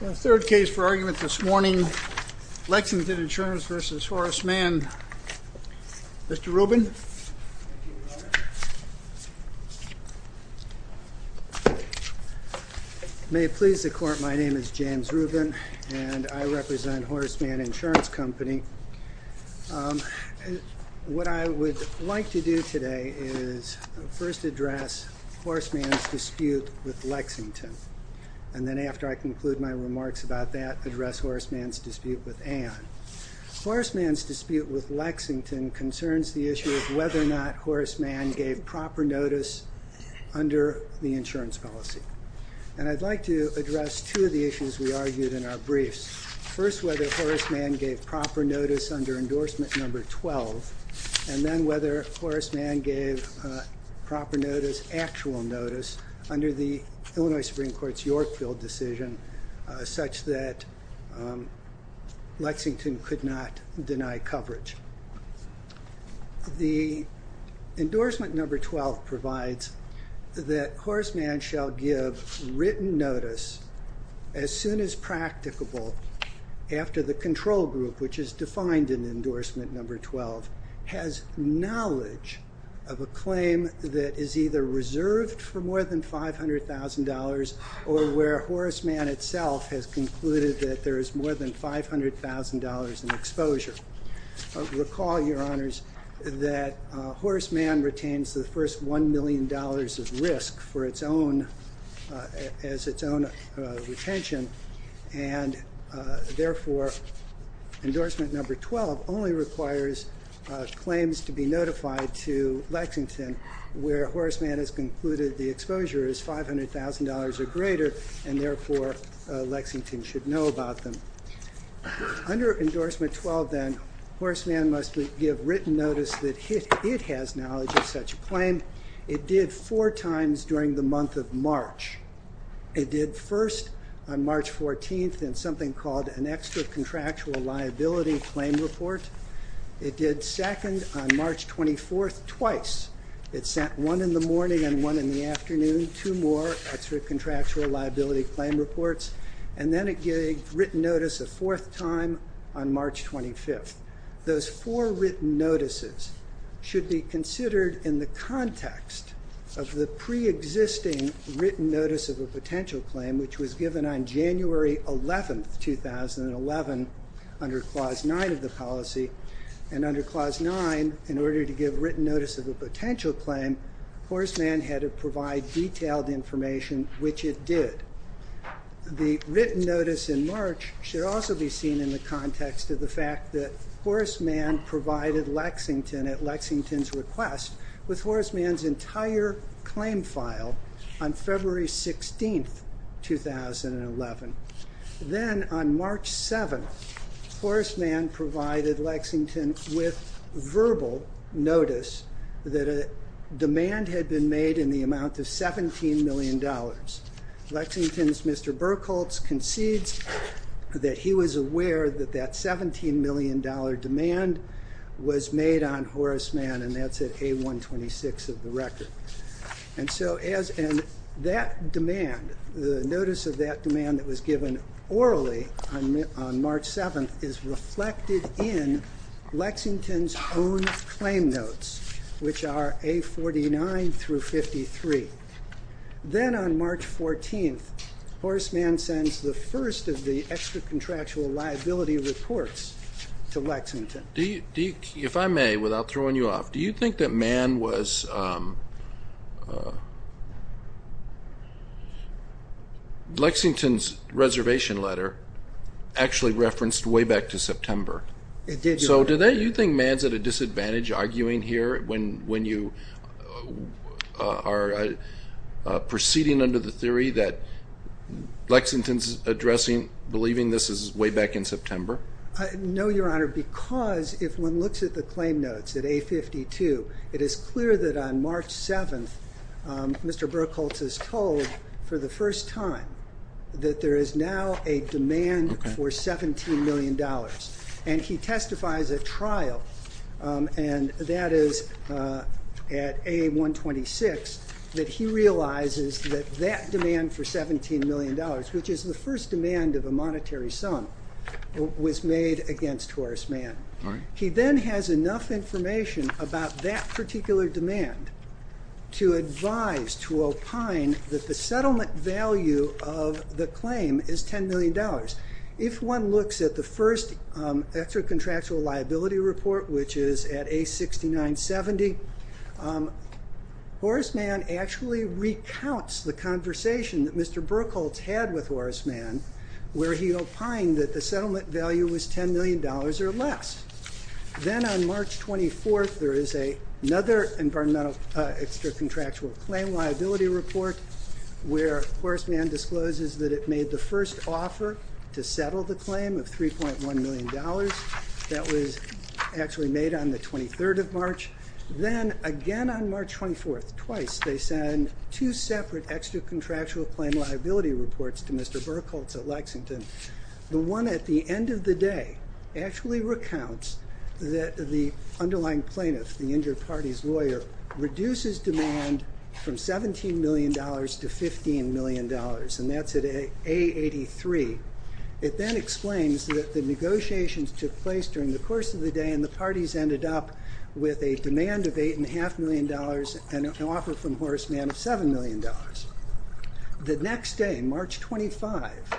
The third case for argument this morning, Lexington Insurance v. Horace Mann. Mr. Rubin? May it please the court, my name is James Rubin and I represent Horace Mann Insurance Company. What I would like to do today is first address Horace Mann's dispute with Lexington. And then after I conclude my remarks about that, address Horace Mann's dispute with Ann. Horace Mann's dispute with Lexington concerns the issue of whether or not Horace Mann gave proper notice under the insurance policy. And I'd like to address two of the issues we argued in our briefs. First, whether Horace Mann gave proper notice under endorsement number 12, and then whether Horace Mann gave proper notice, actual notice, under the Illinois Supreme Court's Yorkville decision, such that Lexington could not deny coverage. The endorsement number 12 provides that Horace Mann shall give written notice as soon as practicable after the control group, which is defined in endorsement number 12, has knowledge of a claim that is either reserved for more than $500,000 or where Horace Mann itself has concluded that there is more than $500,000 in exposure. Recall, Your Honors, that Horace Mann retains the first $1 million of risk as its own retention, and therefore endorsement number 12 only requires claims to be notified to Lexington where Horace Mann has concluded the exposure is $500,000 or greater, and therefore Lexington should know about them. Under endorsement 12, then, Horace Mann must give written notice that it has knowledge of such a claim. It did four times during the month of March. It did first on March 14th in something called an extra-contractual liability claim report. It did second on March 24th twice. It sent one in the morning and one in the afternoon, two more extra-contractual liability claim reports. And then it gave written notice a fourth time on March 25th. Those four written notices should be considered in the context of the pre-existing written notice of a potential claim, which was given on January 11th, 2011, under Clause 9 of the policy. And under Clause 9, in order to give written notice of a potential claim, Horace Mann had to provide detailed information, which it did. The written notice in March should also be seen in the context of the fact that Horace Mann provided Lexington at Lexington's request with Horace Mann's entire claim file on February 16th, 2011. Then on March 7th, Horace Mann provided Lexington with verbal notice that a demand had been made in the amount of $17 million. Lexington's Mr. Burkholz concedes that he was aware that that $17 million demand was made on Horace Mann, and that's at A126 of the record. And so that demand, the notice of that demand that was given orally on March 7th, is reflected in Lexington's own claim notes, which are A49 through 53. Then on March 14th, Horace Mann sends the first of the extra-contractual liability reports to Lexington. Do you, if I may, without throwing you off, do you think that Mann was... Lexington's reservation letter actually referenced way back to September. It did, Your Honor. So do you think Mann's at a disadvantage arguing here when you are proceeding under the theory that Lexington's addressing, believing this is way back in September? No, Your Honor, because if one looks at the claim notes at A52, it is clear that on March 7th, Mr. Burkholz is told for the first time that there is now a demand for $17 million. And he testifies at trial, and that is at A126, that he realizes that that demand for $17 million, which is the first demand of a monetary sum, was made against Horace Mann. He then has enough information about that particular demand to advise, to opine, that the settlement value of the claim is $10 million. If one looks at the first extra-contractual liability report, which is at A6970, Horace Mann actually recounts the conversation that Mr. Burkholz had with Horace Mann, where he opined that the settlement value was $10 million or less. Then on March 24th, there is another environmental extra-contractual claim liability report, where Horace Mann discloses that it made the first offer to settle the claim of $3.1 million. That was actually made on the 23rd of March. Then again on March 24th, twice, they send two separate extra-contractual claim liability reports to Mr. Burkholz at Lexington. The one at the end of the day actually recounts that the underlying plaintiff, the injured party's lawyer, reduces demand from $17 million to $15 million, and that's at A83. It then explains that the negotiations took place during the course of the day, and the parties ended up with a demand of $8.5 million and an offer from Horace Mann of $7 million. The next day, March 25th,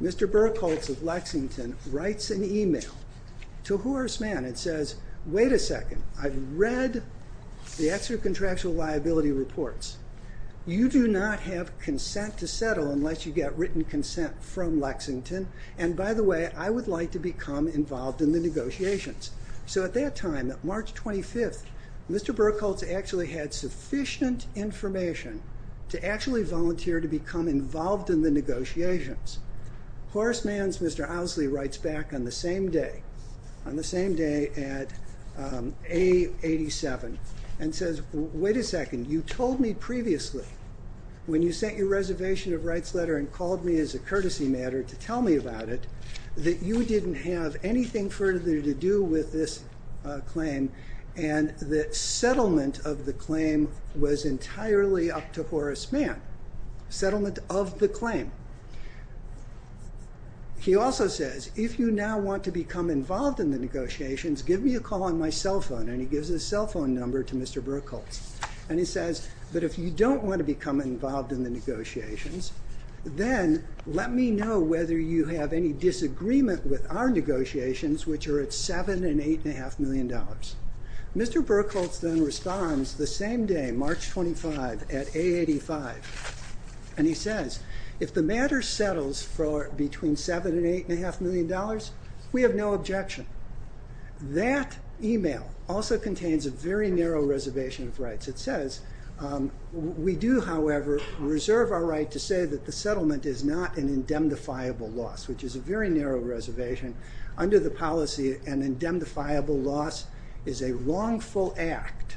Mr. Burkholz at Lexington writes an email to Horace Mann and says, wait a second, I've read the extra-contractual liability reports. You do not have consent to settle unless you get written consent from Lexington, and by the way, I would like to become involved in the negotiations. So at that time, March 25th, Mr. Burkholz actually had sufficient information to actually volunteer to become involved in the negotiations. Horace Mann's Mr. Owsley writes back on the same day, on the same day at A87, and says, wait a second, you told me previously when you sent your reservation of rights letter and called me as a courtesy matter to tell me about it that you didn't have anything further to do with this claim and that settlement of the claim was entirely up to Horace Mann. Settlement of the claim. He also says, if you now want to become involved in the negotiations, give me a call on my cell phone, and he gives his cell phone number to Mr. Burkholz. And he says, but if you don't want to become involved in the negotiations, then let me know whether you have any disagreement with our negotiations, which are at $7.5 million. Mr. Burkholz then responds the same day, March 25th, at A85, and he says, if the matter settles for between $7.5 million and $8.5 million, we have no objection. That email also contains a very narrow reservation of rights. We do, however, reserve our right to say that the settlement is not an indemnifiable loss, which is a very narrow reservation. Under the policy, an indemnifiable loss is a wrongful act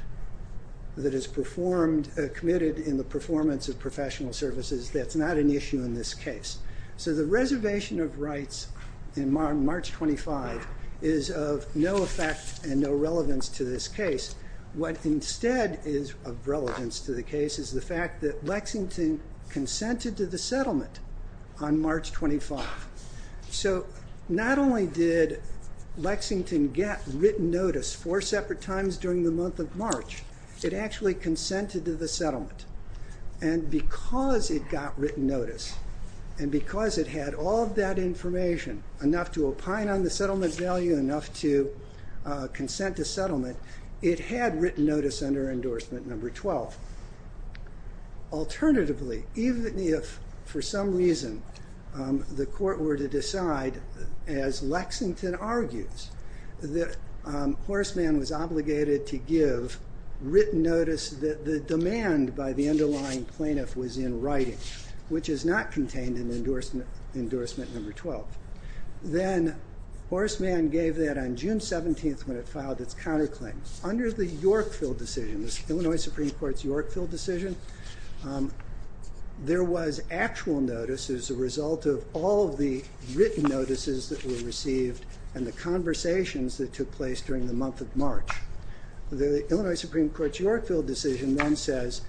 that is committed in the performance of professional services. That's not an issue in this case. So the reservation of rights in March 25 is of no effect and no relevance to this case. What instead is of relevance to the case is the fact that Lexington consented to the settlement on March 25th. So not only did Lexington get written notice four separate times during the month of March, it actually consented to the settlement. And because it got written notice and because it had all of that information, enough to opine on the settlement's value, enough to consent to settlement, it had written notice under endorsement number 12. Alternatively, even if for some reason the court were to decide, as Lexington argues, that Horstman was obligated to give written notice that the demand by the underlying plaintiff was in writing, which is not contained in endorsement number 12, then Horstman gave that on June 17th when it filed its counterclaim. Under the Yorkville decision, the Illinois Supreme Court's Yorkville decision, there was actual notice as a result of all of the written notices that were received and the conversations that took place during the month of March. The Illinois Supreme Court's Yorkville decision then says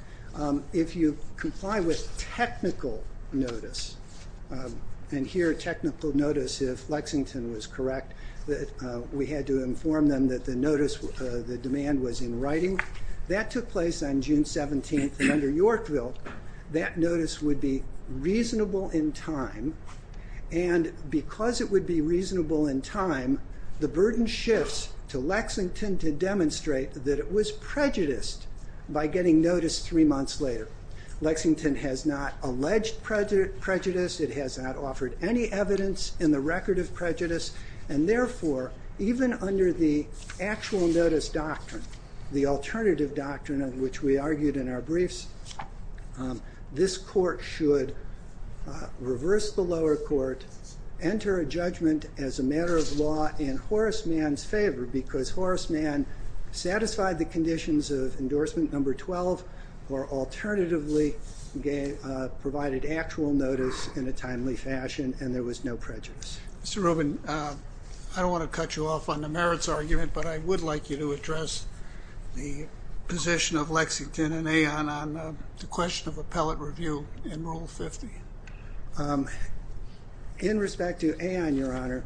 if you comply with technical notice, and here technical notice if Lexington was correct, that we had to inform them that the notice, the demand was in writing, that took place on June 17th and under Yorkville, that notice would be reasonable in time and because it would be reasonable in time, the burden shifts to Lexington to demonstrate that it was prejudiced by getting notice three months later. Lexington has not alleged prejudice, it has not offered any evidence in the record of prejudice, and therefore even under the actual notice doctrine, the alternative doctrine of which we argued in our briefs, this court should reverse the lower court, enter a judgment as a matter of law in Horstman's favor because Horstman satisfied the conditions of endorsement number 12 or alternatively provided actual notice in a timely fashion and there was no prejudice. Mr. Rubin, I don't want to cut you off on the merits argument, but I would like you to address the position of Lexington and Aon on the question of appellate review in Rule 50. In respect to Aon, Your Honor,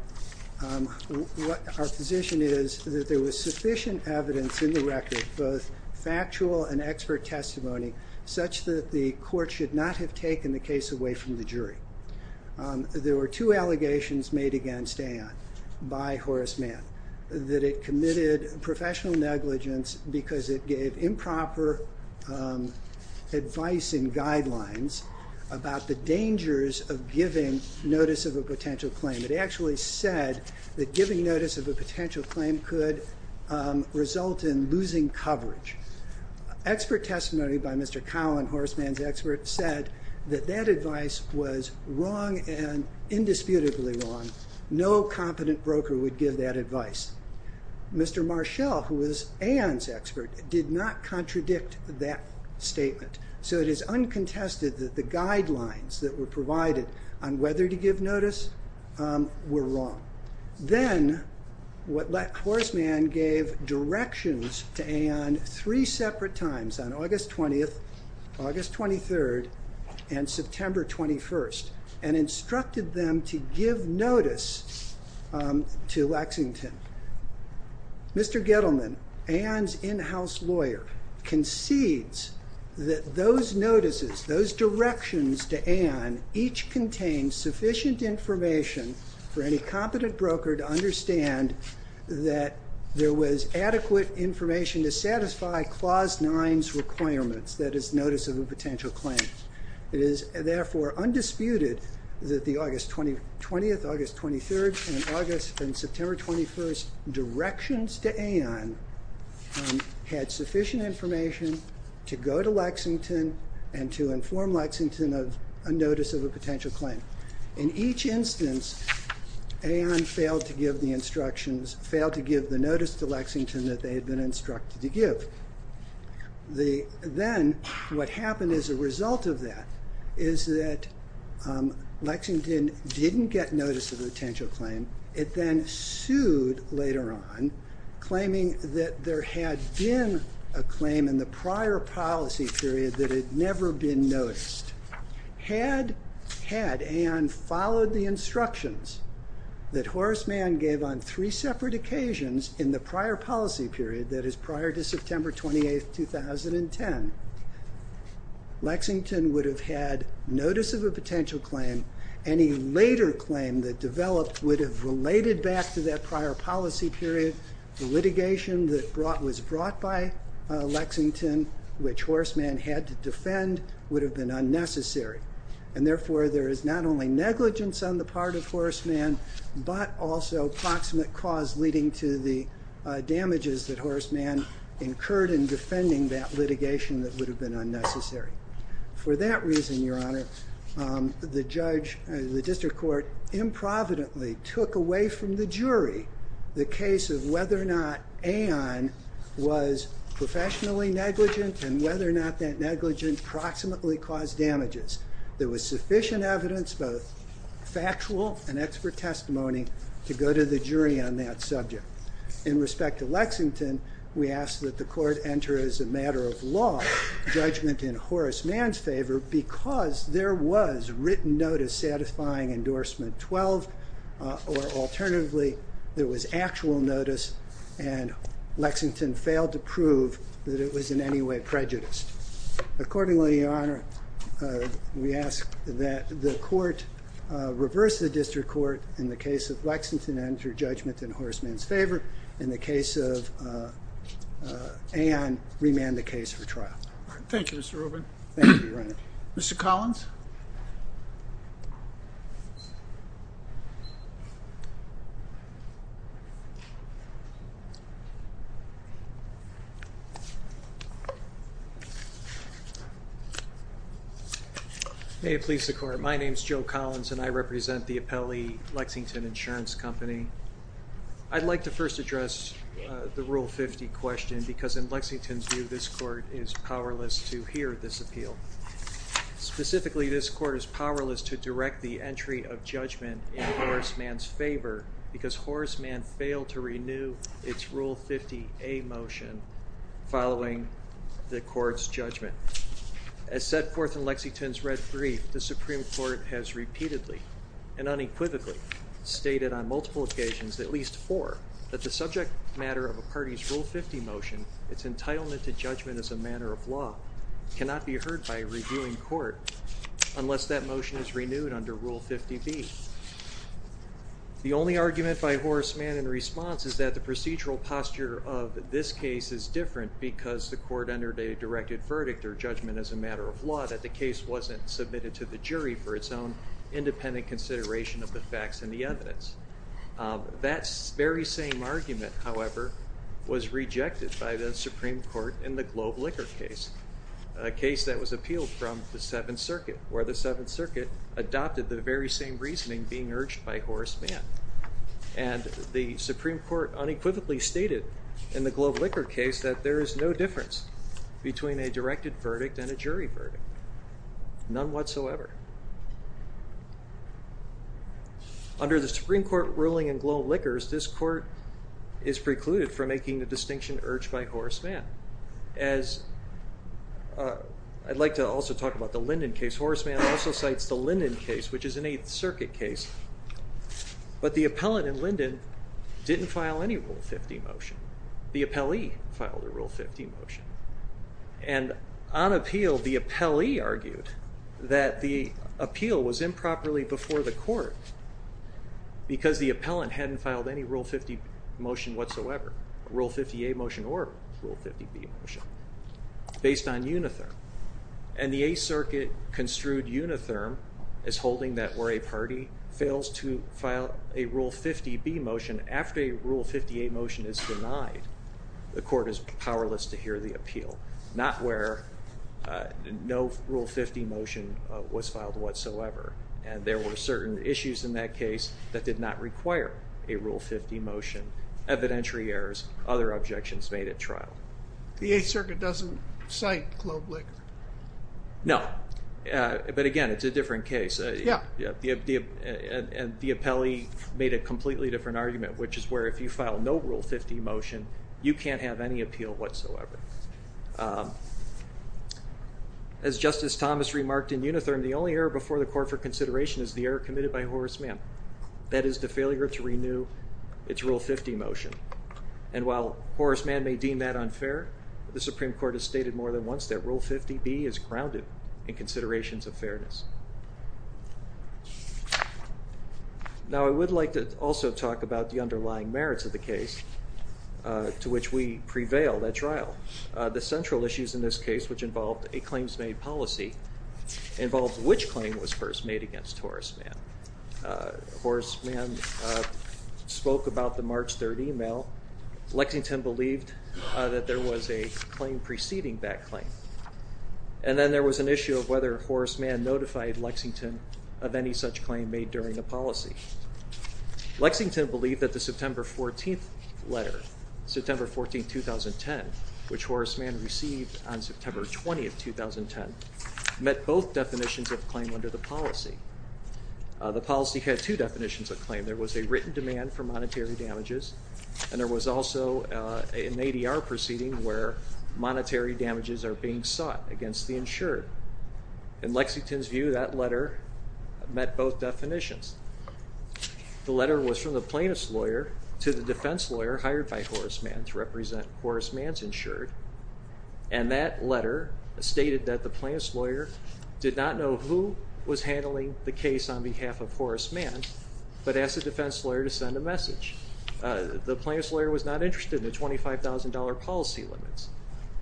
our position is that there was sufficient evidence in the record, both factual and expert testimony, such that the court should not have taken the case away from the jury. There were two allegations made against Aon by Horstman, that it committed professional negligence because it gave improper advice and guidelines about the dangers of giving notice of a potential claim. It actually said that giving notice of a potential claim could result in losing coverage. Expert testimony by Mr. Cowan, Horstman's expert, said that that advice was wrong and indisputably wrong. No competent broker would give that advice. Mr. Marshall, who was Aon's expert, did not contradict that statement. So it is uncontested that the guidelines that were provided on whether to give notice were wrong. Then Horstman gave directions to Aon three separate times, on August 20th, August 23rd, and September 21st, and instructed them to give notice to Lexington. Mr. Gettleman, Aon's in-house lawyer, concedes that those notices, those directions to Aon, each contained sufficient information for any competent broker to understand that there was adequate information to satisfy Clause 9's requirements, that is, notice of a potential claim. It is, therefore, undisputed that the August 20th, August 23rd, and August and September 21st directions to Aon had sufficient information to go to Lexington and to inform Lexington of a notice of a potential claim. In each instance, Aon failed to give the instructions, failed to give the notice to Lexington that they had been instructed to give. Then what happened as a result of that is that Lexington didn't get notice of a potential claim. It then sued later on, claiming that there had been a claim in the prior policy period that had never been noticed. Had Aon followed the instructions that Horstman gave on three separate occasions in the prior policy period, that is, prior to September 28th, 2010, Lexington would have had notice of a potential claim. Any later claim that developed would have related back to that prior policy period. The litigation that was brought by Lexington, which Horstman had to defend, would have been unnecessary. And, therefore, there is not only negligence on the part of Horstman, but also proximate cause leading to the damages that Horstman incurred in defending that litigation that would have been unnecessary. For that reason, Your Honor, the district court improvidently took away from the jury the case of whether or not Aon was professionally negligent and whether or not that negligence proximately caused damages. There was sufficient evidence, both factual and expert testimony, to go to the jury on that subject. In respect to Lexington, we ask that the court enter as a matter of law judgment in Horstman's favor because there was written notice satisfying endorsement 12, or alternatively, there was actual notice and Lexington failed to prove that it was in any way prejudiced. Accordingly, Your Honor, we ask that the court reverse the district court in the case of Lexington and enter judgment in Horstman's favor in the case of Aon, remand the case for trial. Thank you, Mr. Rubin. Thank you, Your Honor. Mr. Collins? May it please the court. My name is Joe Collins and I represent the Appellee Lexington Insurance Company. I'd like to first address the Rule 50 question because in Lexington's view, this court is powerless to hear this appeal. Specifically, this court is powerless to direct the entry of judgment in Horstman's favor because Horstman failed to renew its Rule 50A motion following the court's judgment. As set forth in Lexington's red brief, the Supreme Court has repeatedly and unequivocally stated on multiple occasions, at least four, that the subject matter of a party's Rule 50 motion, its entitlement to judgment as a matter of law, cannot be heard by a reviewing court unless that motion is renewed under Rule 50B. The only argument by Horstman in response is that the procedural posture of this case is different because the court entered a directed verdict or judgment as a matter of law, that the case wasn't submitted to the jury for its own independent consideration of the facts and the evidence. That very same argument, however, was rejected by the Supreme Court in the Globe Liquor case, a case that was appealed from the Seventh Circuit, where the Seventh Circuit adopted the very same reasoning being urged by Horstman. And the Supreme Court unequivocally stated in the Globe Liquor case that there is no difference between a directed verdict and a jury verdict, none whatsoever. Under the Supreme Court ruling in Globe Liquors, this court is precluded from making the distinction urged by Horstman. I'd like to also talk about the Linden case. Horstman also cites the Linden case, which is an Eighth Circuit case, but the appellant in Linden didn't file any Rule 50 motion. The appellee filed a Rule 50 motion. And on appeal, the appellee argued that the appeal was improperly before the court because the appellant hadn't filed any Rule 50 motion whatsoever, Rule 50A motion or Rule 50B motion, based on unitherm. And the Eighth Circuit construed unitherm as holding that where a party fails to file a Rule 50B motion after a Rule 50A motion is denied, the court is powerless to hear the appeal, not where no Rule 50 motion was filed whatsoever. And there were certain issues in that case that did not require a Rule 50 motion, evidentiary errors, other objections made at trial. The Eighth Circuit doesn't cite Globe Liquor. No. But again, it's a different case. Yeah. And the appellee made a completely different argument, which is where if you file no Rule 50 motion, you can't have any appeal whatsoever. As Justice Thomas remarked in unitherm, the only error before the court for consideration is the error committed by Horace Mann. That is the failure to renew its Rule 50 motion. And while Horace Mann may deem that unfair, the Supreme Court has stated more than once that Rule 50B is grounded in considerations of fairness. Now, I would like to also talk about the underlying merits of the case to which we prevail at trial. The central issues in this case, which involved a claims-made policy, involved which claim was first made against Horace Mann. Horace Mann spoke about the March 3rd email. Lexington believed that there was a claim preceding that claim. And then there was an issue of whether Horace Mann notified Lexington of any such claim made during the policy. Lexington believed that the September 14th letter, September 14, 2010, which Horace Mann received on September 20, 2010, met both definitions of claim under the policy. The policy had two definitions of claim. There was a written demand for monetary damages, and there was also an ADR proceeding where monetary damages are being sought against the insured. In Lexington's view, that letter met both definitions. The letter was from the plaintiff's lawyer to the defense lawyer hired by Horace Mann to represent Horace Mann's insured, and that letter stated that the plaintiff's lawyer did not know who was handling the case on behalf of Horace Mann but asked the defense lawyer to send a message. The plaintiff's lawyer was not interested in the $25,000 policy limits.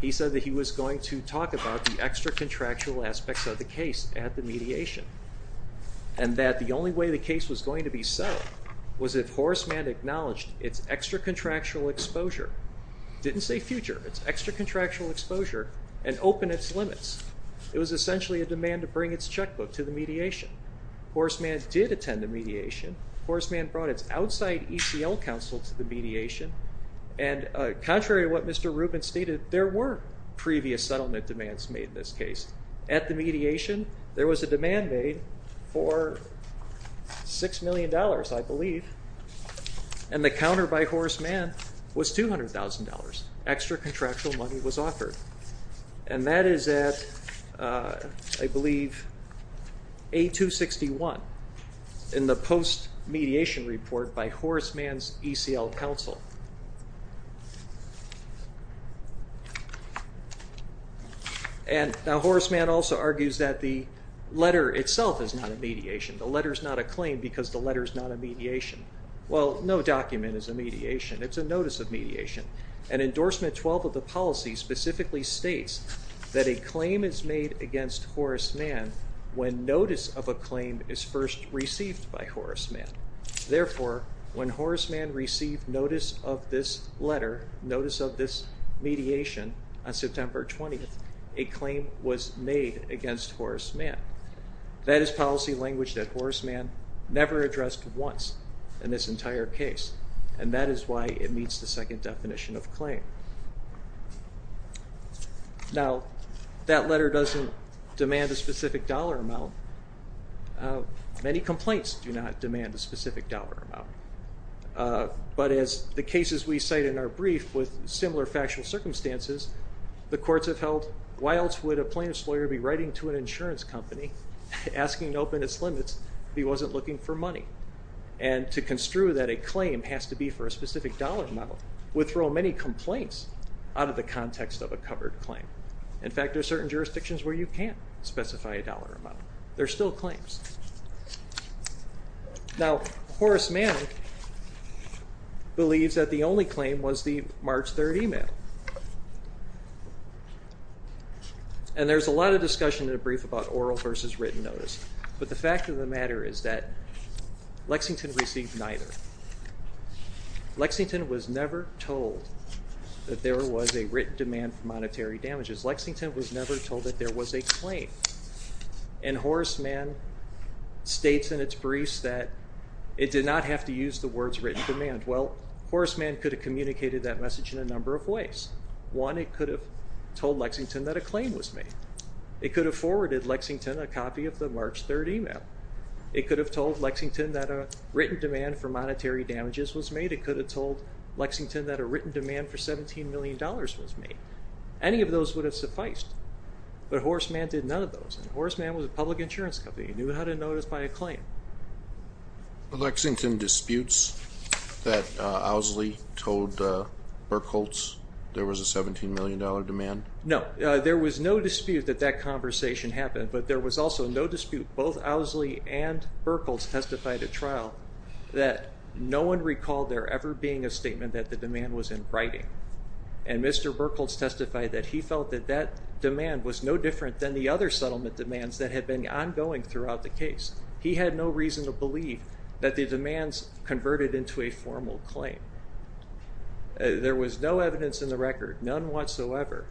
He said that he was going to talk about the extra-contractual aspects of the case at the mediation and that the only way the case was going to be settled was if Horace Mann acknowledged its extra-contractual exposure, didn't say future, its extra-contractual exposure, and opened its limits. It was essentially a demand to bring its checkbook to the mediation. Horace Mann did attend the mediation. Horace Mann brought its outside ECL counsel to the mediation, and contrary to what Mr. Rubin stated, there were previous settlement demands made in this case. At the mediation, there was a demand made for $6 million, I believe, and the counter by Horace Mann was $200,000. Extra-contractual money was offered, and that is at, I believe, A261 in the post-mediation report by Horace Mann's ECL counsel. Horace Mann also argues that the letter itself is not a mediation. The letter is not a claim because the letter is not a mediation. Well, no document is a mediation. It's a notice of mediation. Endorsement 12 of the policy specifically states that a claim is made against Horace Mann when notice of a claim is first received by Horace Mann. Therefore, when Horace Mann received notice of this letter, notice of this mediation, on September 20th, a claim was made against Horace Mann. That is policy language that Horace Mann never addressed once in this entire case, and that is why it meets the second definition of claim. Now, that letter doesn't demand a specific dollar amount. Many complaints do not demand a specific dollar amount. But as the cases we cite in our brief with similar factual circumstances, the courts have held, why else would a plaintiff's lawyer be writing to an insurance company asking to open its limits if he wasn't looking for money? And to construe that a claim has to be for a specific dollar amount would throw many complaints out of the context of a covered claim. In fact, there are certain jurisdictions where you can't specify a dollar amount. There are still claims. Now, Horace Mann believes that the only claim was the March 3rd email. And there's a lot of discussion in the brief about oral versus written notice. But the fact of the matter is that Lexington received neither. Lexington was never told that there was a written demand for monetary damages. Lexington was never told that there was a claim. And Horace Mann states in its briefs that it did not have to use the words written demand. Well, Horace Mann could have communicated that message in a number of ways. One, it could have told Lexington that a claim was made. It could have forwarded Lexington a copy of the March 3rd email. It could have told Lexington that a written demand for monetary damages was made. It could have told Lexington that a written demand for $17 million was made. Any of those would have sufficed. But Horace Mann did none of those. And Horace Mann was a public insurance company. He knew how to notice by a claim. Lexington disputes that Owsley told Burkholz there was a $17 million demand? No. There was no dispute that that conversation happened, but there was also no dispute. Both Owsley and Burkholz testified at trial that no one recalled there ever being a statement that the demand was in writing. And Mr. Burkholz testified that he felt that that demand was no different than the other settlement demands that had been ongoing throughout the case. He had no reason to believe that the demands converted into a formal claim. There was no evidence in the record, none whatsoever,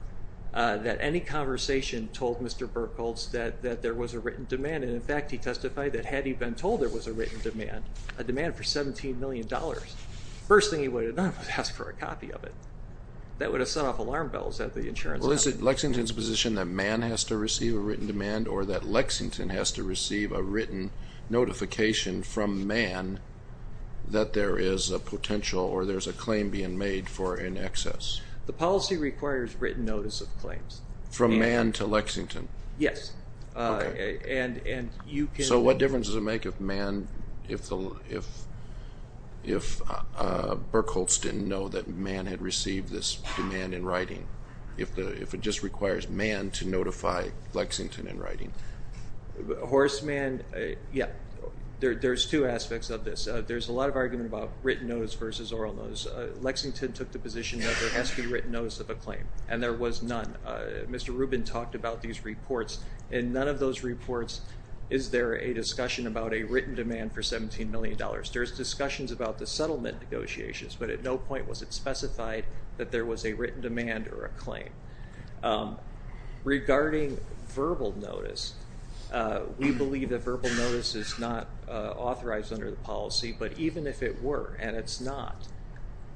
that any conversation told Mr. Burkholz that there was a written demand. And, in fact, he testified that had he been told there was a written demand, a demand for $17 million, the first thing he would have done was ask for a copy of it. That would have set off alarm bells at the insurance company. Well, is it Lexington's position that Mann has to receive a written demand or that Lexington has to receive a written notification from Mann that there is a potential or there's a claim being made for an excess? The policy requires written notice of claims. From Mann to Lexington? Yes. Okay. And you can... So what difference does it make if Mann, if Burkholz didn't know that Mann had received this demand in writing, if it just requires Mann to notify Lexington in writing? Horstmann, yeah, there's two aspects of this. There's a lot of argument about written notice versus oral notice. Lexington took the position that there has to be written notice of a claim, and there was none. Mr. Rubin talked about these reports. In none of those reports is there a discussion about a written demand for $17 million. There's discussions about the settlement negotiations, but at no point was it specified that there was a written demand or a claim. Regarding verbal notice, we believe that verbal notice is not authorized under the policy, but even if it were, and it's not,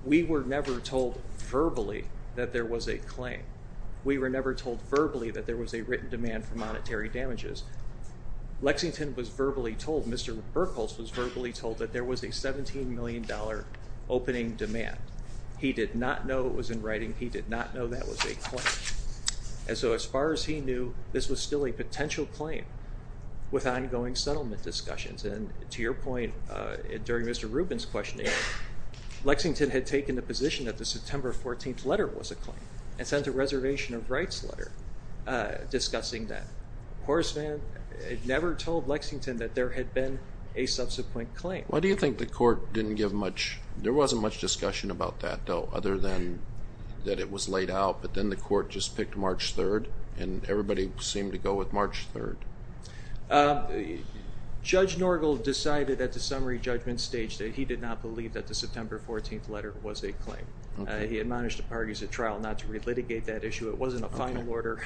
we were never told verbally that there was a claim. We were never told verbally that there was a written demand for monetary damages. Lexington was verbally told, Mr. Burkholz was verbally told that there was a $17 million opening demand. He did not know it was in writing. He did not know that was a claim. And so as far as he knew, this was still a potential claim with ongoing settlement discussions. And to your point, during Mr. Rubin's questioning, Lexington had taken the position that the September 14th letter was a claim and sent a reservation of rights letter discussing that. Horstman never told Lexington that there had been a subsequent claim. Why do you think the court didn't give much? There wasn't much discussion about that, though, other than that it was laid out, but then the court just picked March 3rd, and everybody seemed to go with March 3rd. Judge Norgal decided at the summary judgment stage that he did not believe that the September 14th letter was a claim. He admonished the parties at trial not to relitigate that issue. It wasn't a final order,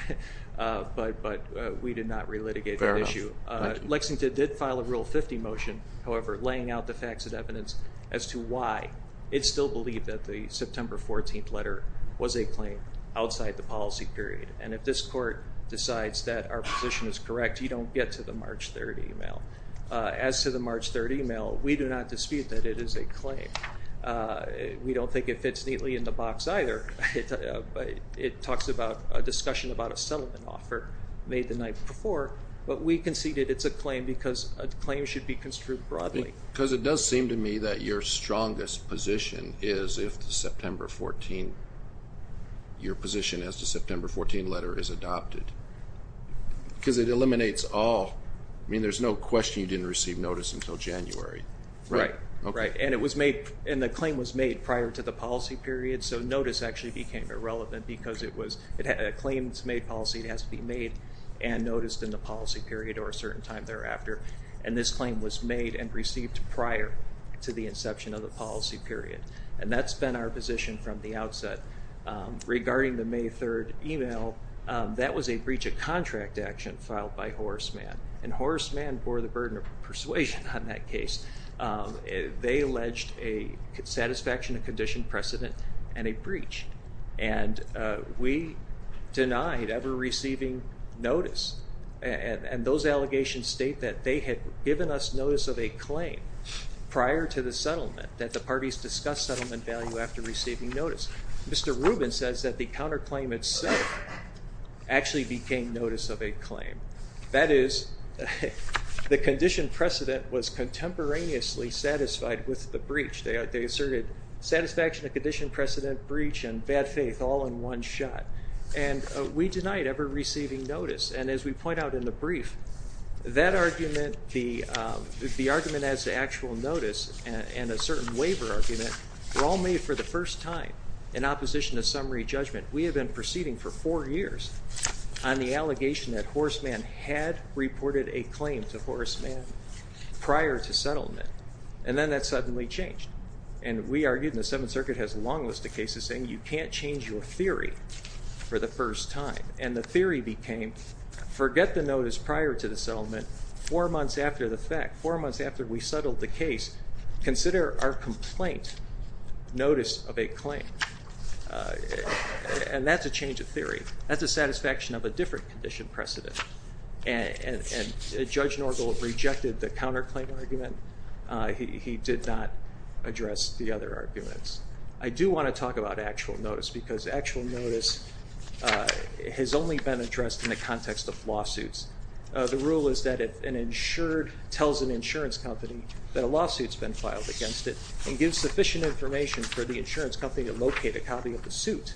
but we did not relitigate that issue. Lexington did file a Rule 50 motion, however, laying out the facts and evidence as to why it still believed that the September 14th letter was a claim outside the policy period. And if this court decides that our position is correct, you don't get to the March 3rd email. As to the March 3rd email, we do not dispute that it is a claim. We don't think it fits neatly in the box either. It talks about a discussion about a settlement offer made the night before, but we conceded it's a claim because a claim should be construed broadly. Because it does seem to me that your strongest position is if the September 14th, your position as to the September 14th letter is adopted. Because it eliminates all, I mean, there's no question you didn't receive notice until January. Right, right. And it was made, and the claim was made prior to the policy period, so notice actually became irrelevant because it was a claims-made policy. It has to be made and noticed in the policy period or a certain time thereafter. And this claim was made and received prior to the inception of the policy period. And that's been our position from the outset. Regarding the May 3rd email, that was a breach of contract action filed by Horace Mann. And Horace Mann bore the burden of persuasion on that case. They alleged a satisfaction of condition precedent and a breach. And we denied ever receiving notice. And those allegations state that they had given us notice of a claim prior to the settlement that the parties discussed settlement value after receiving notice. Mr. Rubin says that the counterclaim itself actually became notice of a claim. That is, the condition precedent was contemporaneously satisfied with the breach. They asserted satisfaction of condition precedent, breach, and bad faith all in one shot. And we denied ever receiving notice. And as we point out in the brief, that argument, the argument as to actual notice and a certain waiver argument were all made for the first time in opposition to summary judgment. We had been proceeding for four years on the allegation that Horace Mann had reported a claim to Horace Mann prior to settlement. And then that suddenly changed. And we argued, and the Seventh Circuit has a long list of cases saying you can't change your theory for the first time. And the theory became, forget the notice prior to the settlement. Four months after the fact, four months after we settled the case, consider our complaint notice of a claim. And that's a change of theory. That's a satisfaction of a different condition precedent. And Judge Norgel rejected the counterclaim argument. He did not address the other arguments. I do want to talk about actual notice because actual notice has only been addressed in the context of lawsuits. The rule is that if an insured tells an insurance company that a lawsuit has been filed against it and gives sufficient information for the insurance company to locate a copy of the suit,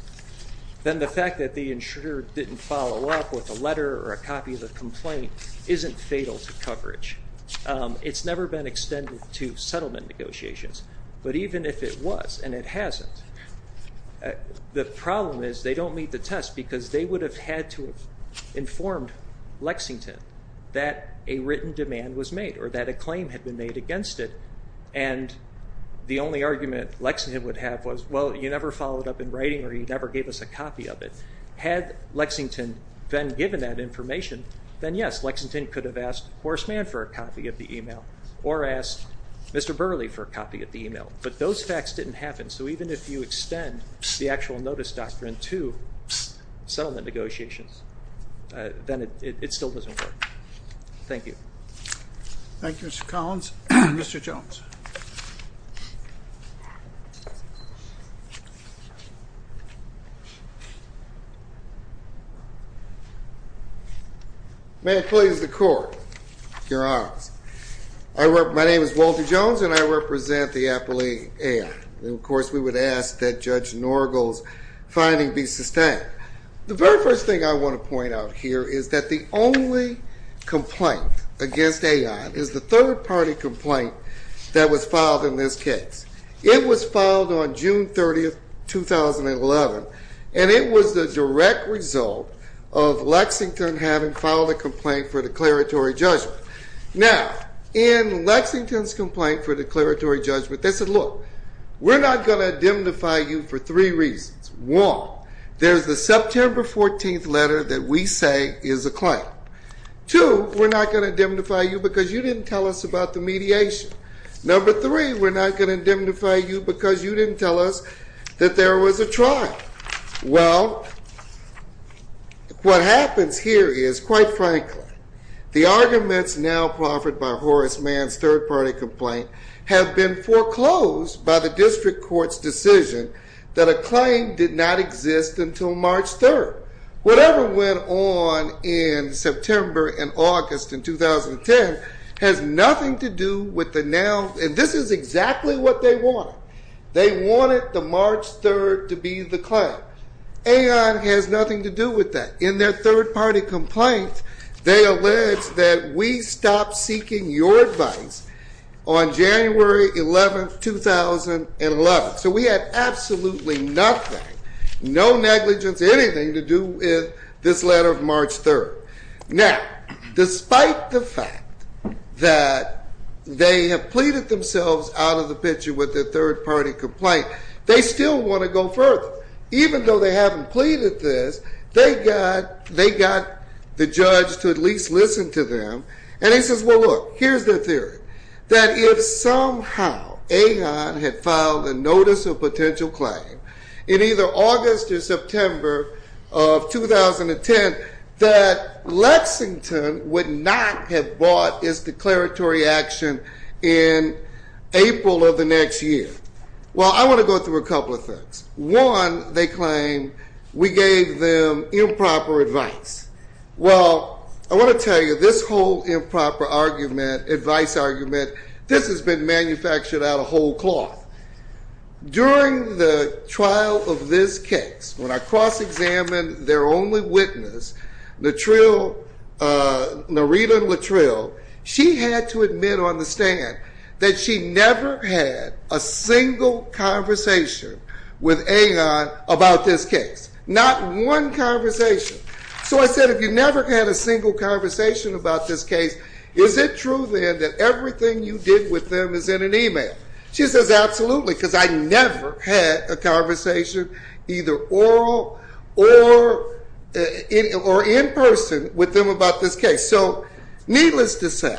then the fact that the insurer didn't follow up with a letter or a copy of the complaint isn't fatal to coverage. It's never been extended to settlement negotiations. But even if it was and it hasn't, the problem is they don't meet the test because they would have had to have informed Lexington that a written demand was made or that a claim had been made against it. And the only argument Lexington would have was, well, you never followed up in writing or you never gave us a copy of it. Had Lexington then given that information, then, yes, Lexington could have asked Horseman for a copy of the email or asked Mr. Burley for a copy of the email. But those facts didn't happen. So even if you extend the actual notice doctrine to settlement negotiations, then it still doesn't work. Thank you. Thank you, Mr. Collins. Mr. Jones. May it please the Court, Your Honors. My name is Walter Jones, and I represent the Appellee A.I. And, of course, we would ask that Judge Norgal's finding be sustained. The very first thing I want to point out here is that the only complaint against A.I. is the third-party complaint that was filed in this case. It was filed on June 30, 2011, and it was the direct result of Lexington having filed a complaint for declaratory judgment. Now, in Lexington's complaint for declaratory judgment, they said, look, we're not going to indemnify you for three reasons. One, there's the September 14th letter that we say is a claim. Two, we're not going to indemnify you because you didn't tell us about the mediation. Number three, we're not going to indemnify you because you didn't tell us that there was a trial. Well, what happens here is, quite frankly, the arguments now proffered by Horace Mann's third-party complaint have been foreclosed by the district court's decision that a claim did not exist until March 3rd. Whatever went on in September and August in 2010 has nothing to do with the now, and this is exactly what they wanted. They wanted the March 3rd to be the claim. AON has nothing to do with that. In their third-party complaint, they allege that we stopped seeking your advice on January 11, 2011. So we had absolutely nothing, no negligence, anything to do with this letter of March 3rd. Now, despite the fact that they have pleaded themselves out of the picture with their third-party complaint, they still want to go further. Even though they haven't pleaded this, they got the judge to at least listen to them. And he says, well, look, here's their theory, that if somehow AON had filed a notice of potential claim in either August or September of 2010, that Lexington would not have bought its declaratory action in April of the next year. Well, I want to go through a couple of things. One, they claim we gave them improper advice. Well, I want to tell you, this whole improper argument, advice argument, this has been manufactured out of whole cloth. During the trial of this case, when I cross-examined their only witness, Narita Luttrell, she had to admit on the stand that she never had a single conversation with AON about this case. Not one conversation. So I said, if you never had a single conversation about this case, is it true then that everything you did with them is in an email? She says, absolutely, because I never had a conversation, either oral or in person, with them about this case. So needless to say,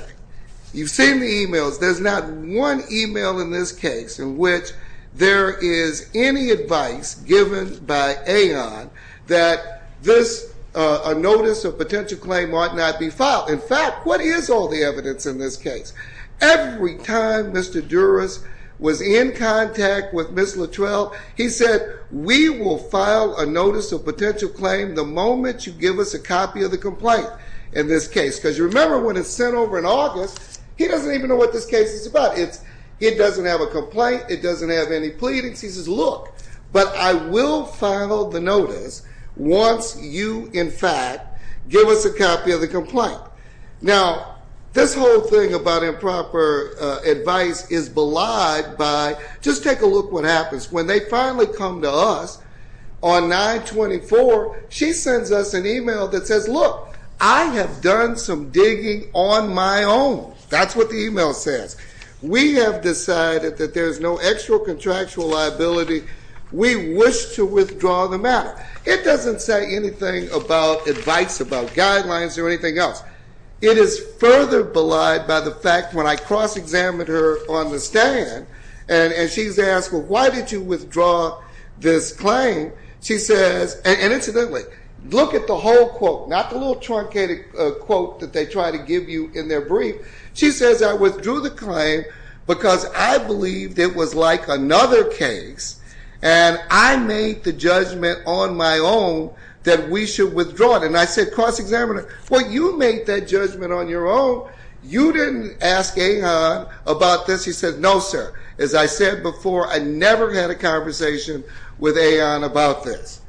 you've seen the emails. There's not one email in this case in which there is any advice given by AON that this notice of potential claim might not be filed. In fact, what is all the evidence in this case? Every time Mr. Duras was in contact with Ms. Luttrell, he said, we will file a notice of potential claim the moment you give us a copy of the complaint in this case. Because you remember when it's sent over in August, he doesn't even know what this case is about. It doesn't have a complaint. It doesn't have any pleadings. He says, look, but I will file the notice once you, in fact, give us a copy of the complaint. Now, this whole thing about improper advice is belied by, just take a look what happens. When they finally come to us on 9-24, she sends us an email that says, look, I have done some digging on my own. That's what the email says. We have decided that there's no extra contractual liability. We wish to withdraw the matter. It doesn't say anything about advice, about guidelines, or anything else. It is further belied by the fact when I cross-examined her on the stand, and she's asked, well, why did you withdraw this claim? She says, and incidentally, look at the whole quote, not the little truncated quote that they try to give you in their brief. She says, I withdrew the claim because I believed it was like another case. And I made the judgment on my own that we should withdraw it. And I said, cross-examiner, well, you made that judgment on your own. You didn't ask Ahon about this. He said, no, sir. As I said before, I never had a conversation with Ahon about this.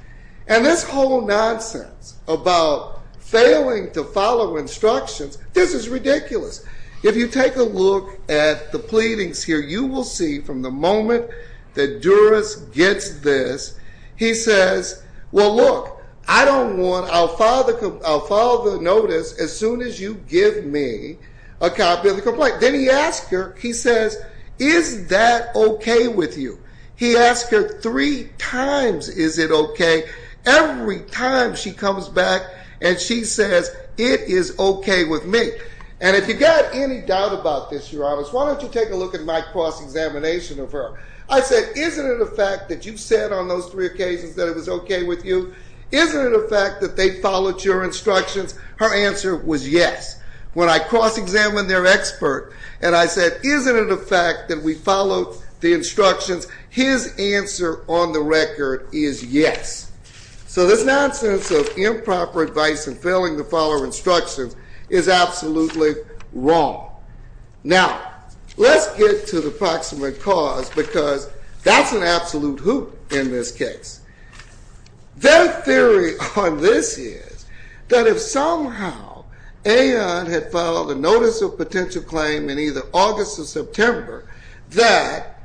And this whole nonsense about failing to follow instructions, this is ridiculous. If you take a look at the pleadings here, you will see from the moment that Duras gets this, he says, well, look, I don't want to follow the notice as soon as you give me a copy of the complaint. Then he asks her, he says, is that OK with you? He asks her three times, is it OK? Every time she comes back and she says, it is OK with me. And if you've got any doubt about this, Your Honor, why don't you take a look at my cross-examination of her. I said, isn't it a fact that you said on those three occasions that it was OK with you? Isn't it a fact that they followed your instructions? Her answer was yes. When I cross-examined their expert and I said, isn't it a fact that we followed the instructions, his answer on the record is yes. So this nonsense of improper advice and failing to follow instructions is absolutely wrong. Now, let's get to the proximate cause because that's an absolute hoot in this case. Their theory on this is that if somehow Aon had filed a notice of potential claim in either August or September, that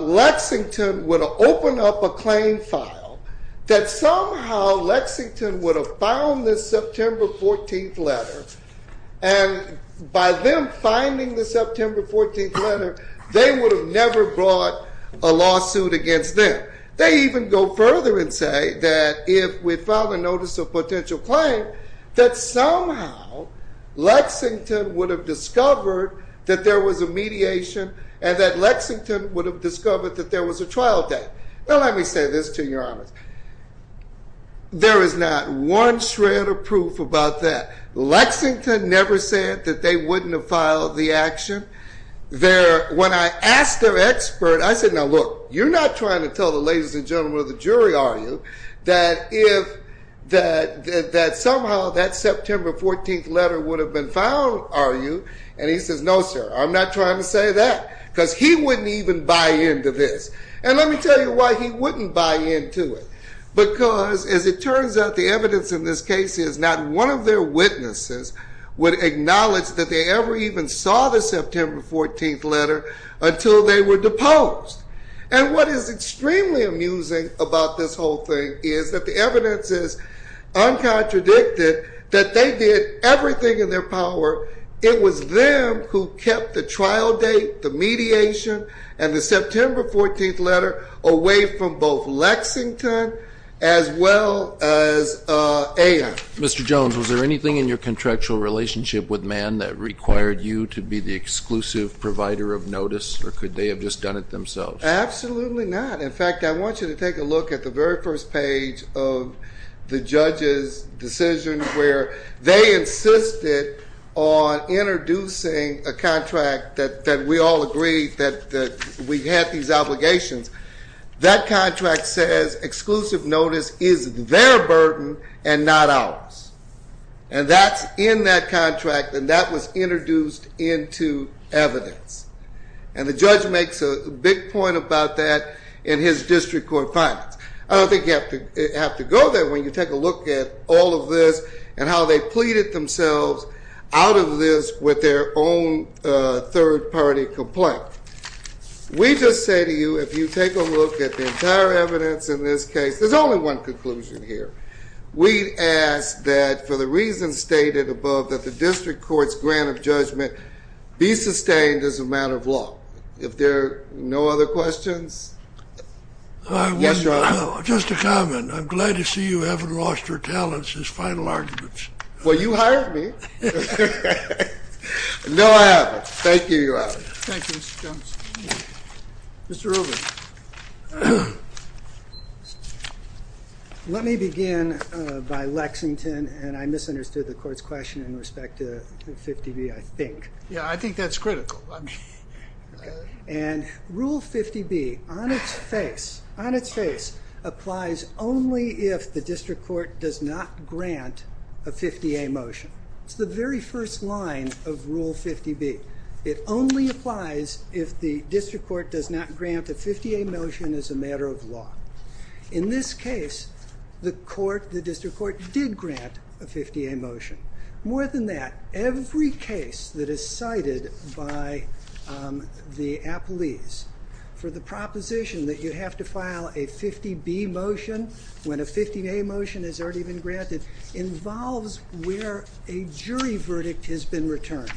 Lexington would have opened up a claim file, that somehow Lexington would have found this September 14th letter. And by them finding the September 14th letter, they would have never brought a lawsuit against them. They even go further and say that if we filed a notice of potential claim, that somehow Lexington would have discovered that there was a mediation and that Lexington would have discovered that there was a trial date. Now, let me say this to you, Your Honor. There is not one shred of proof about that. Lexington never said that they wouldn't have filed the action. When I asked their expert, I said, now look, you're not trying to tell the ladies and gentlemen of the jury, are you, that somehow that September 14th letter would have been found, are you? And he says, no, sir. I'm not trying to say that because he wouldn't even buy into this. And let me tell you why he wouldn't buy into it. Because, as it turns out, the evidence in this case is not one of their witnesses would acknowledge that they ever even saw the September 14th letter until they were deposed. And what is extremely amusing about this whole thing is that the evidence is uncontradicted that they did everything in their power. It was them who kept the trial date, the mediation, and the September 14th letter away from both Lexington as well as A.I. Mr. Jones, was there anything in your contractual relationship with Mann that required you to be the exclusive provider of notice? Or could they have just done it themselves? Absolutely not. In fact, I want you to take a look at the very first page of the judge's decision where they insisted on introducing a contract that we all agree that we had these obligations. That contract says exclusive notice is their burden and not ours. And that's in that contract. And that was introduced into evidence. And the judge makes a big point about that in his district court findings. I don't think you have to go there when you take a look at all of this and how they pleaded themselves out of this with their own third party complaint. We just say to you, if you take a look at the entire evidence in this case, there's only one conclusion here. We ask that, for the reasons stated above, that the district court's grant of judgment be sustained as a matter of law. If there are no other questions, yes, Your Honor. Just a comment. I'm glad to see you haven't lost your talents as final arguments. Well, you hired me. No, I haven't. Thank you, Your Honor. Thank you, Mr. Jones. Mr. Rubin. Let me begin by Lexington. And I misunderstood the court's question in respect to 50B, I think. Yeah, I think that's critical. And Rule 50B, on its face, applies only if the district court does not grant a 50A motion. It's the very first line of Rule 50B. It only applies if the district court does not grant a 50A motion as a matter of law. In this case, the court, the district court, did grant a 50A motion. More than that, every case that is cited by the appellees for the proposition that you have to file a 50B motion when a 50A motion has already been granted involves where a jury verdict has been returned.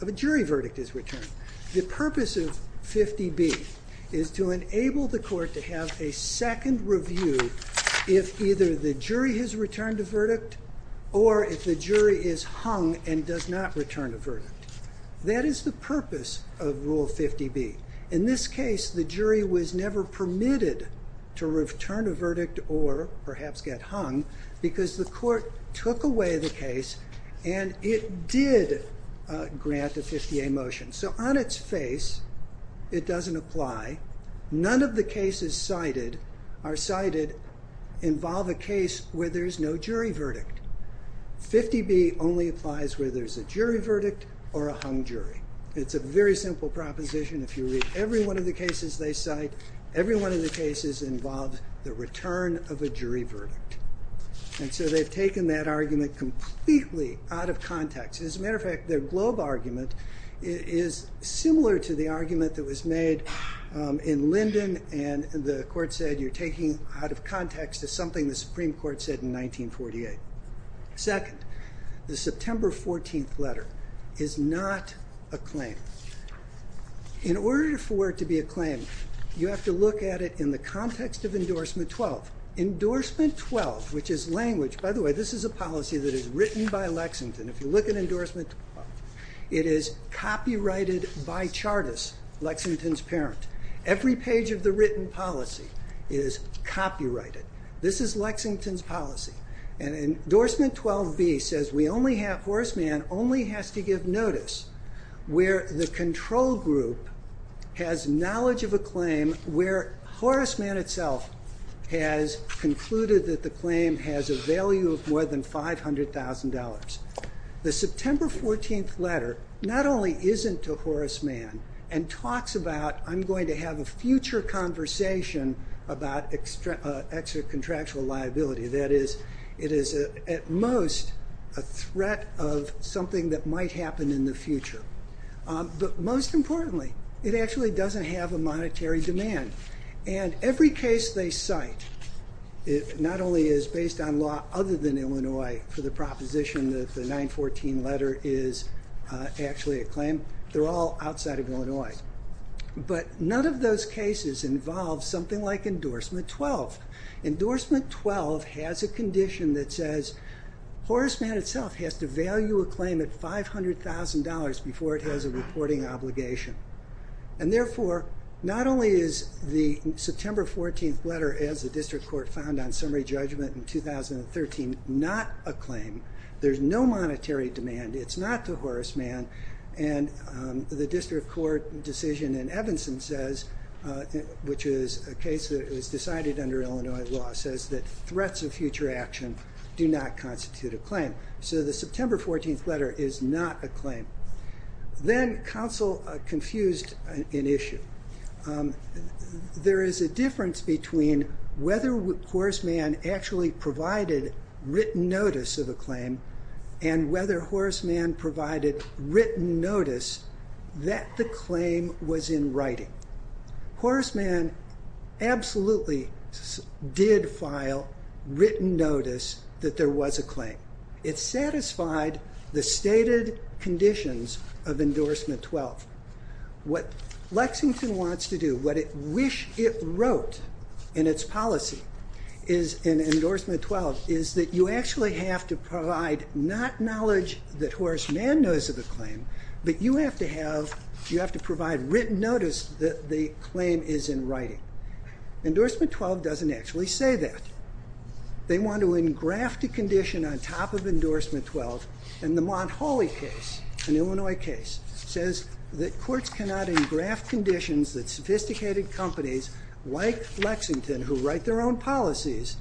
A jury verdict is returned. The purpose of 50B is to enable the court to have a second review if either the jury has returned a verdict or if the jury is hung and does not return a verdict. That is the purpose of Rule 50B. In this case, the jury was never permitted to return a verdict or perhaps get hung because the court took away the case and it did grant a 50A motion. So on its face, it doesn't apply. None of the cases cited are cited involve a case where there's no jury verdict. 50B only applies where there's a jury verdict or a hung jury. It's a very simple proposition. If you read every one of the cases they cite, every one of the cases involves the return of a jury verdict. And so they've taken that argument completely out of context. As a matter of fact, their Globe argument is similar to the argument that was made in Linden and the court said you're taking out of context something the Supreme Court said in 1948. Second, the September 14th letter is not a claim. In order for it to be a claim, you have to look at it in the context of Endorsement 12. Endorsement 12, which is language, by the way, this is a policy that is written by Lexington. If you look at Endorsement 12, it is copyrighted by Chartis, Lexington's parent. Every page of the written policy is copyrighted. This is Lexington's policy. And Endorsement 12b says Horace Mann only has to give notice where the control group has knowledge of a claim where Horace Mann itself has concluded that the claim has a value of more than $500,000. The September 14th letter not only isn't to Horace Mann and talks about I'm going to have a future conversation about extra contractual liability. That is, it is at most a threat of something that might happen in the future. But most importantly, it actually doesn't have a monetary demand. And every case they cite not only is based on law other than Illinois for the proposition that the 914 letter is actually a claim, they're all outside of Illinois. But none of those cases involve something like Endorsement 12. Endorsement 12 has a condition that says Horace Mann itself has to value a claim at $500,000 before it has a reporting obligation. And therefore, not only is the September 14th letter as the district court found on summary judgment in 2013 not a claim, there's no monetary demand. It's not to Horace Mann. And the district court decision in Evanston says, which is a case that was decided under Illinois law, says that threats of future action do not constitute a claim. So the September 14th letter is not a claim. Then counsel confused an issue. There is a difference between whether Horace Mann actually provided written notice of a claim and whether Horace Mann provided written notice that the claim was in writing. Horace Mann absolutely did file written notice that there was a claim. It satisfied the stated conditions of Endorsement 12. What Lexington wants to do, what it wished it wrote in its policy in Endorsement 12, is that you actually have to provide not knowledge that Horace Mann knows of the claim, but you have to provide written notice that the claim is in writing. Endorsement 12 doesn't actually say that. They want to engraft a condition on top of Endorsement 12. And the Montholy case, an Illinois case, says that courts cannot engraft conditions that sophisticated companies like Lexington, who write their own policies,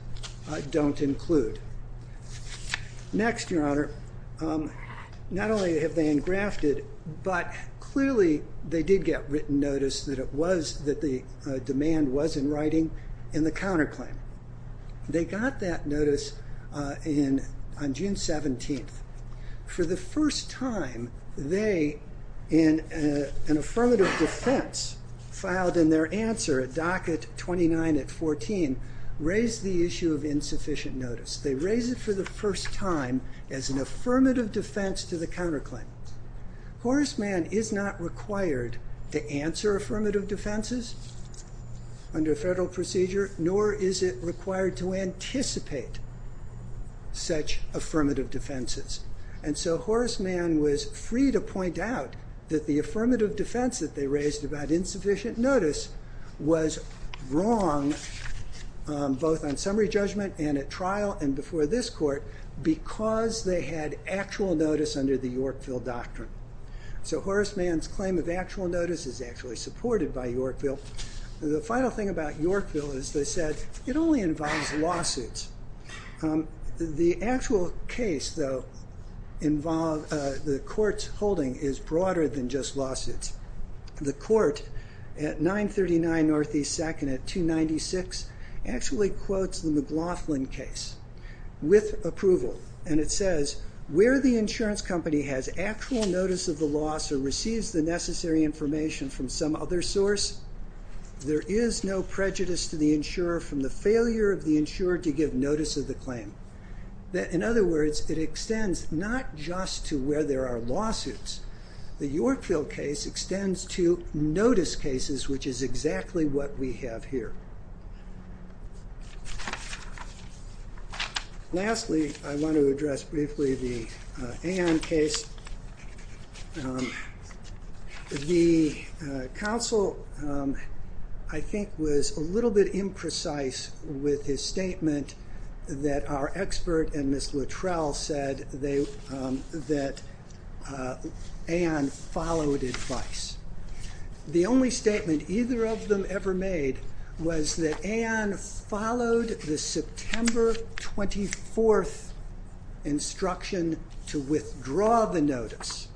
don't include. Next, Your Honor, not only have they engrafted, but clearly they did get written notice that the demand was in writing in the counterclaim. They got that notice on June 17th. For the first time, they, in an affirmative defense, filed in their answer at docket 29 at 14, raised the issue of insufficient notice. They raised it for the first time as an affirmative defense to the counterclaim. Horace Mann is not required to answer affirmative defenses under federal procedure, nor is it required to anticipate such affirmative defenses. And so Horace Mann was free to point out that the affirmative defense that they raised about insufficient notice was wrong, both on summary judgment and at trial and before this court, because they had actual notice under the Yorkville Doctrine. So Horace Mann's claim of actual notice is actually supported by Yorkville. The final thing about Yorkville is, they said, it only involves lawsuits. The actual case, though, the court's holding is broader than just lawsuits. The court at 939 NE 2nd at 296 actually quotes the McLaughlin case with approval. And it says, where the insurance company has actual notice of the loss or receives the necessary information from some other source, there is no prejudice to the insurer from the failure of the insurer to give notice of the claim. In other words, it extends not just to where there are lawsuits. The Yorkville case extends to notice cases, which is exactly what we have here. Lastly, I want to address briefly the Anne case. The counsel, I think, was a little bit imprecise with his statement that our expert and Ms. Luttrell said that Anne followed advice. The only statement either of them ever made was that Anne followed the September 24th instruction to withdraw the notice.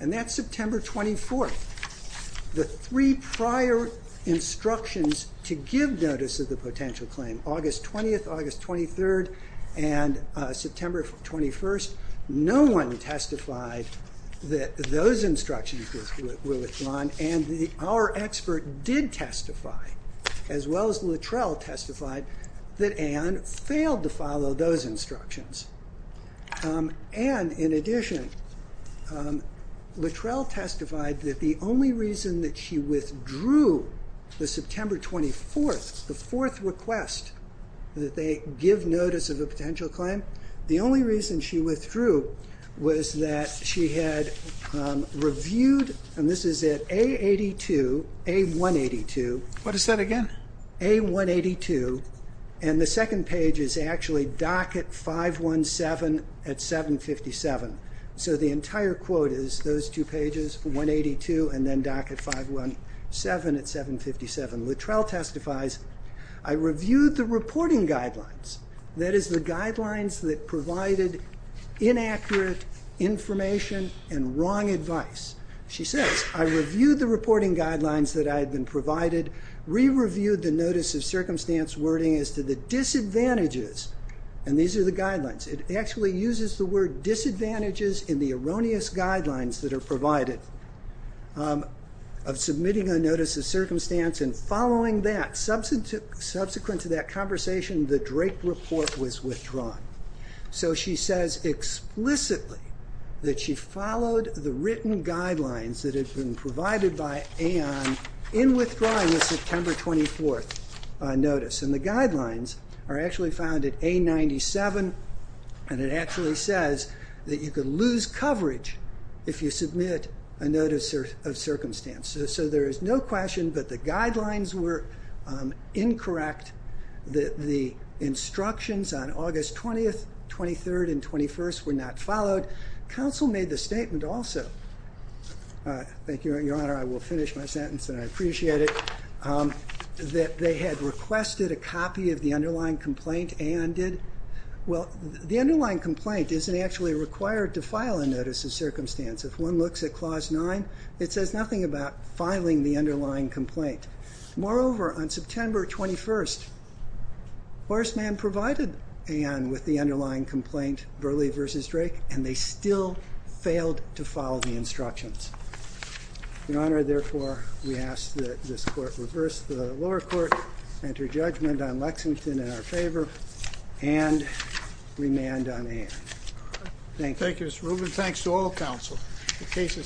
And that's September 24th. The three prior instructions to give notice of the potential claim, August 20th, August 23rd, and September 21st, no one testified that those instructions were withdrawn. And our expert did testify, as well as Luttrell testified, that Anne failed to follow those instructions. And in addition, Luttrell testified that the only reason that she withdrew the September 24th, the fourth request that they give notice of a potential claim, the only reason she withdrew was that she had reviewed, and this is at A82, A182. What is that again? A182. And the second page is actually docket 517 at 757. So the entire quote is those two pages, 182 and then docket 517 at 757. Luttrell testifies, I reviewed the reporting guidelines, that is the guidelines that provided inaccurate information and wrong advice. She says, I reviewed the reporting guidelines that I had been provided, re-reviewed the notice of circumstance wording as to the disadvantages, and these are the guidelines, it actually uses the word disadvantages in the erroneous guidelines that are provided, of submitting a notice of circumstance and following that, subsequent to that conversation, the Drake report was withdrawn. So she says explicitly that she followed the written guidelines that had been provided by Anne in withdrawing the September 24th notice. And the guidelines are actually found at A97, and it actually says that you could lose coverage if you submit a notice of circumstance. So there is no question that the guidelines were incorrect, that the instructions on August 20th, 23rd, and 21st were not followed. Council made the statement also, thank you Your Honor, I will finish my sentence and I appreciate it, that they had requested a copy of the underlying complaint, Anne did. Well, the underlying complaint isn't actually required to file a notice of circumstance. If one looks at Clause 9, it says nothing about filing the underlying complaint. Moreover, on September 21st, Horseman provided Anne with the underlying complaint, Burleigh v. Drake, and they still failed to follow the instructions. Your Honor, therefore, we ask that this Court reverse the lower court, enter judgment on Lexington in our favor, and remand on Anne. Thank you. Thank you Mr. Rubin, thanks to all counsel.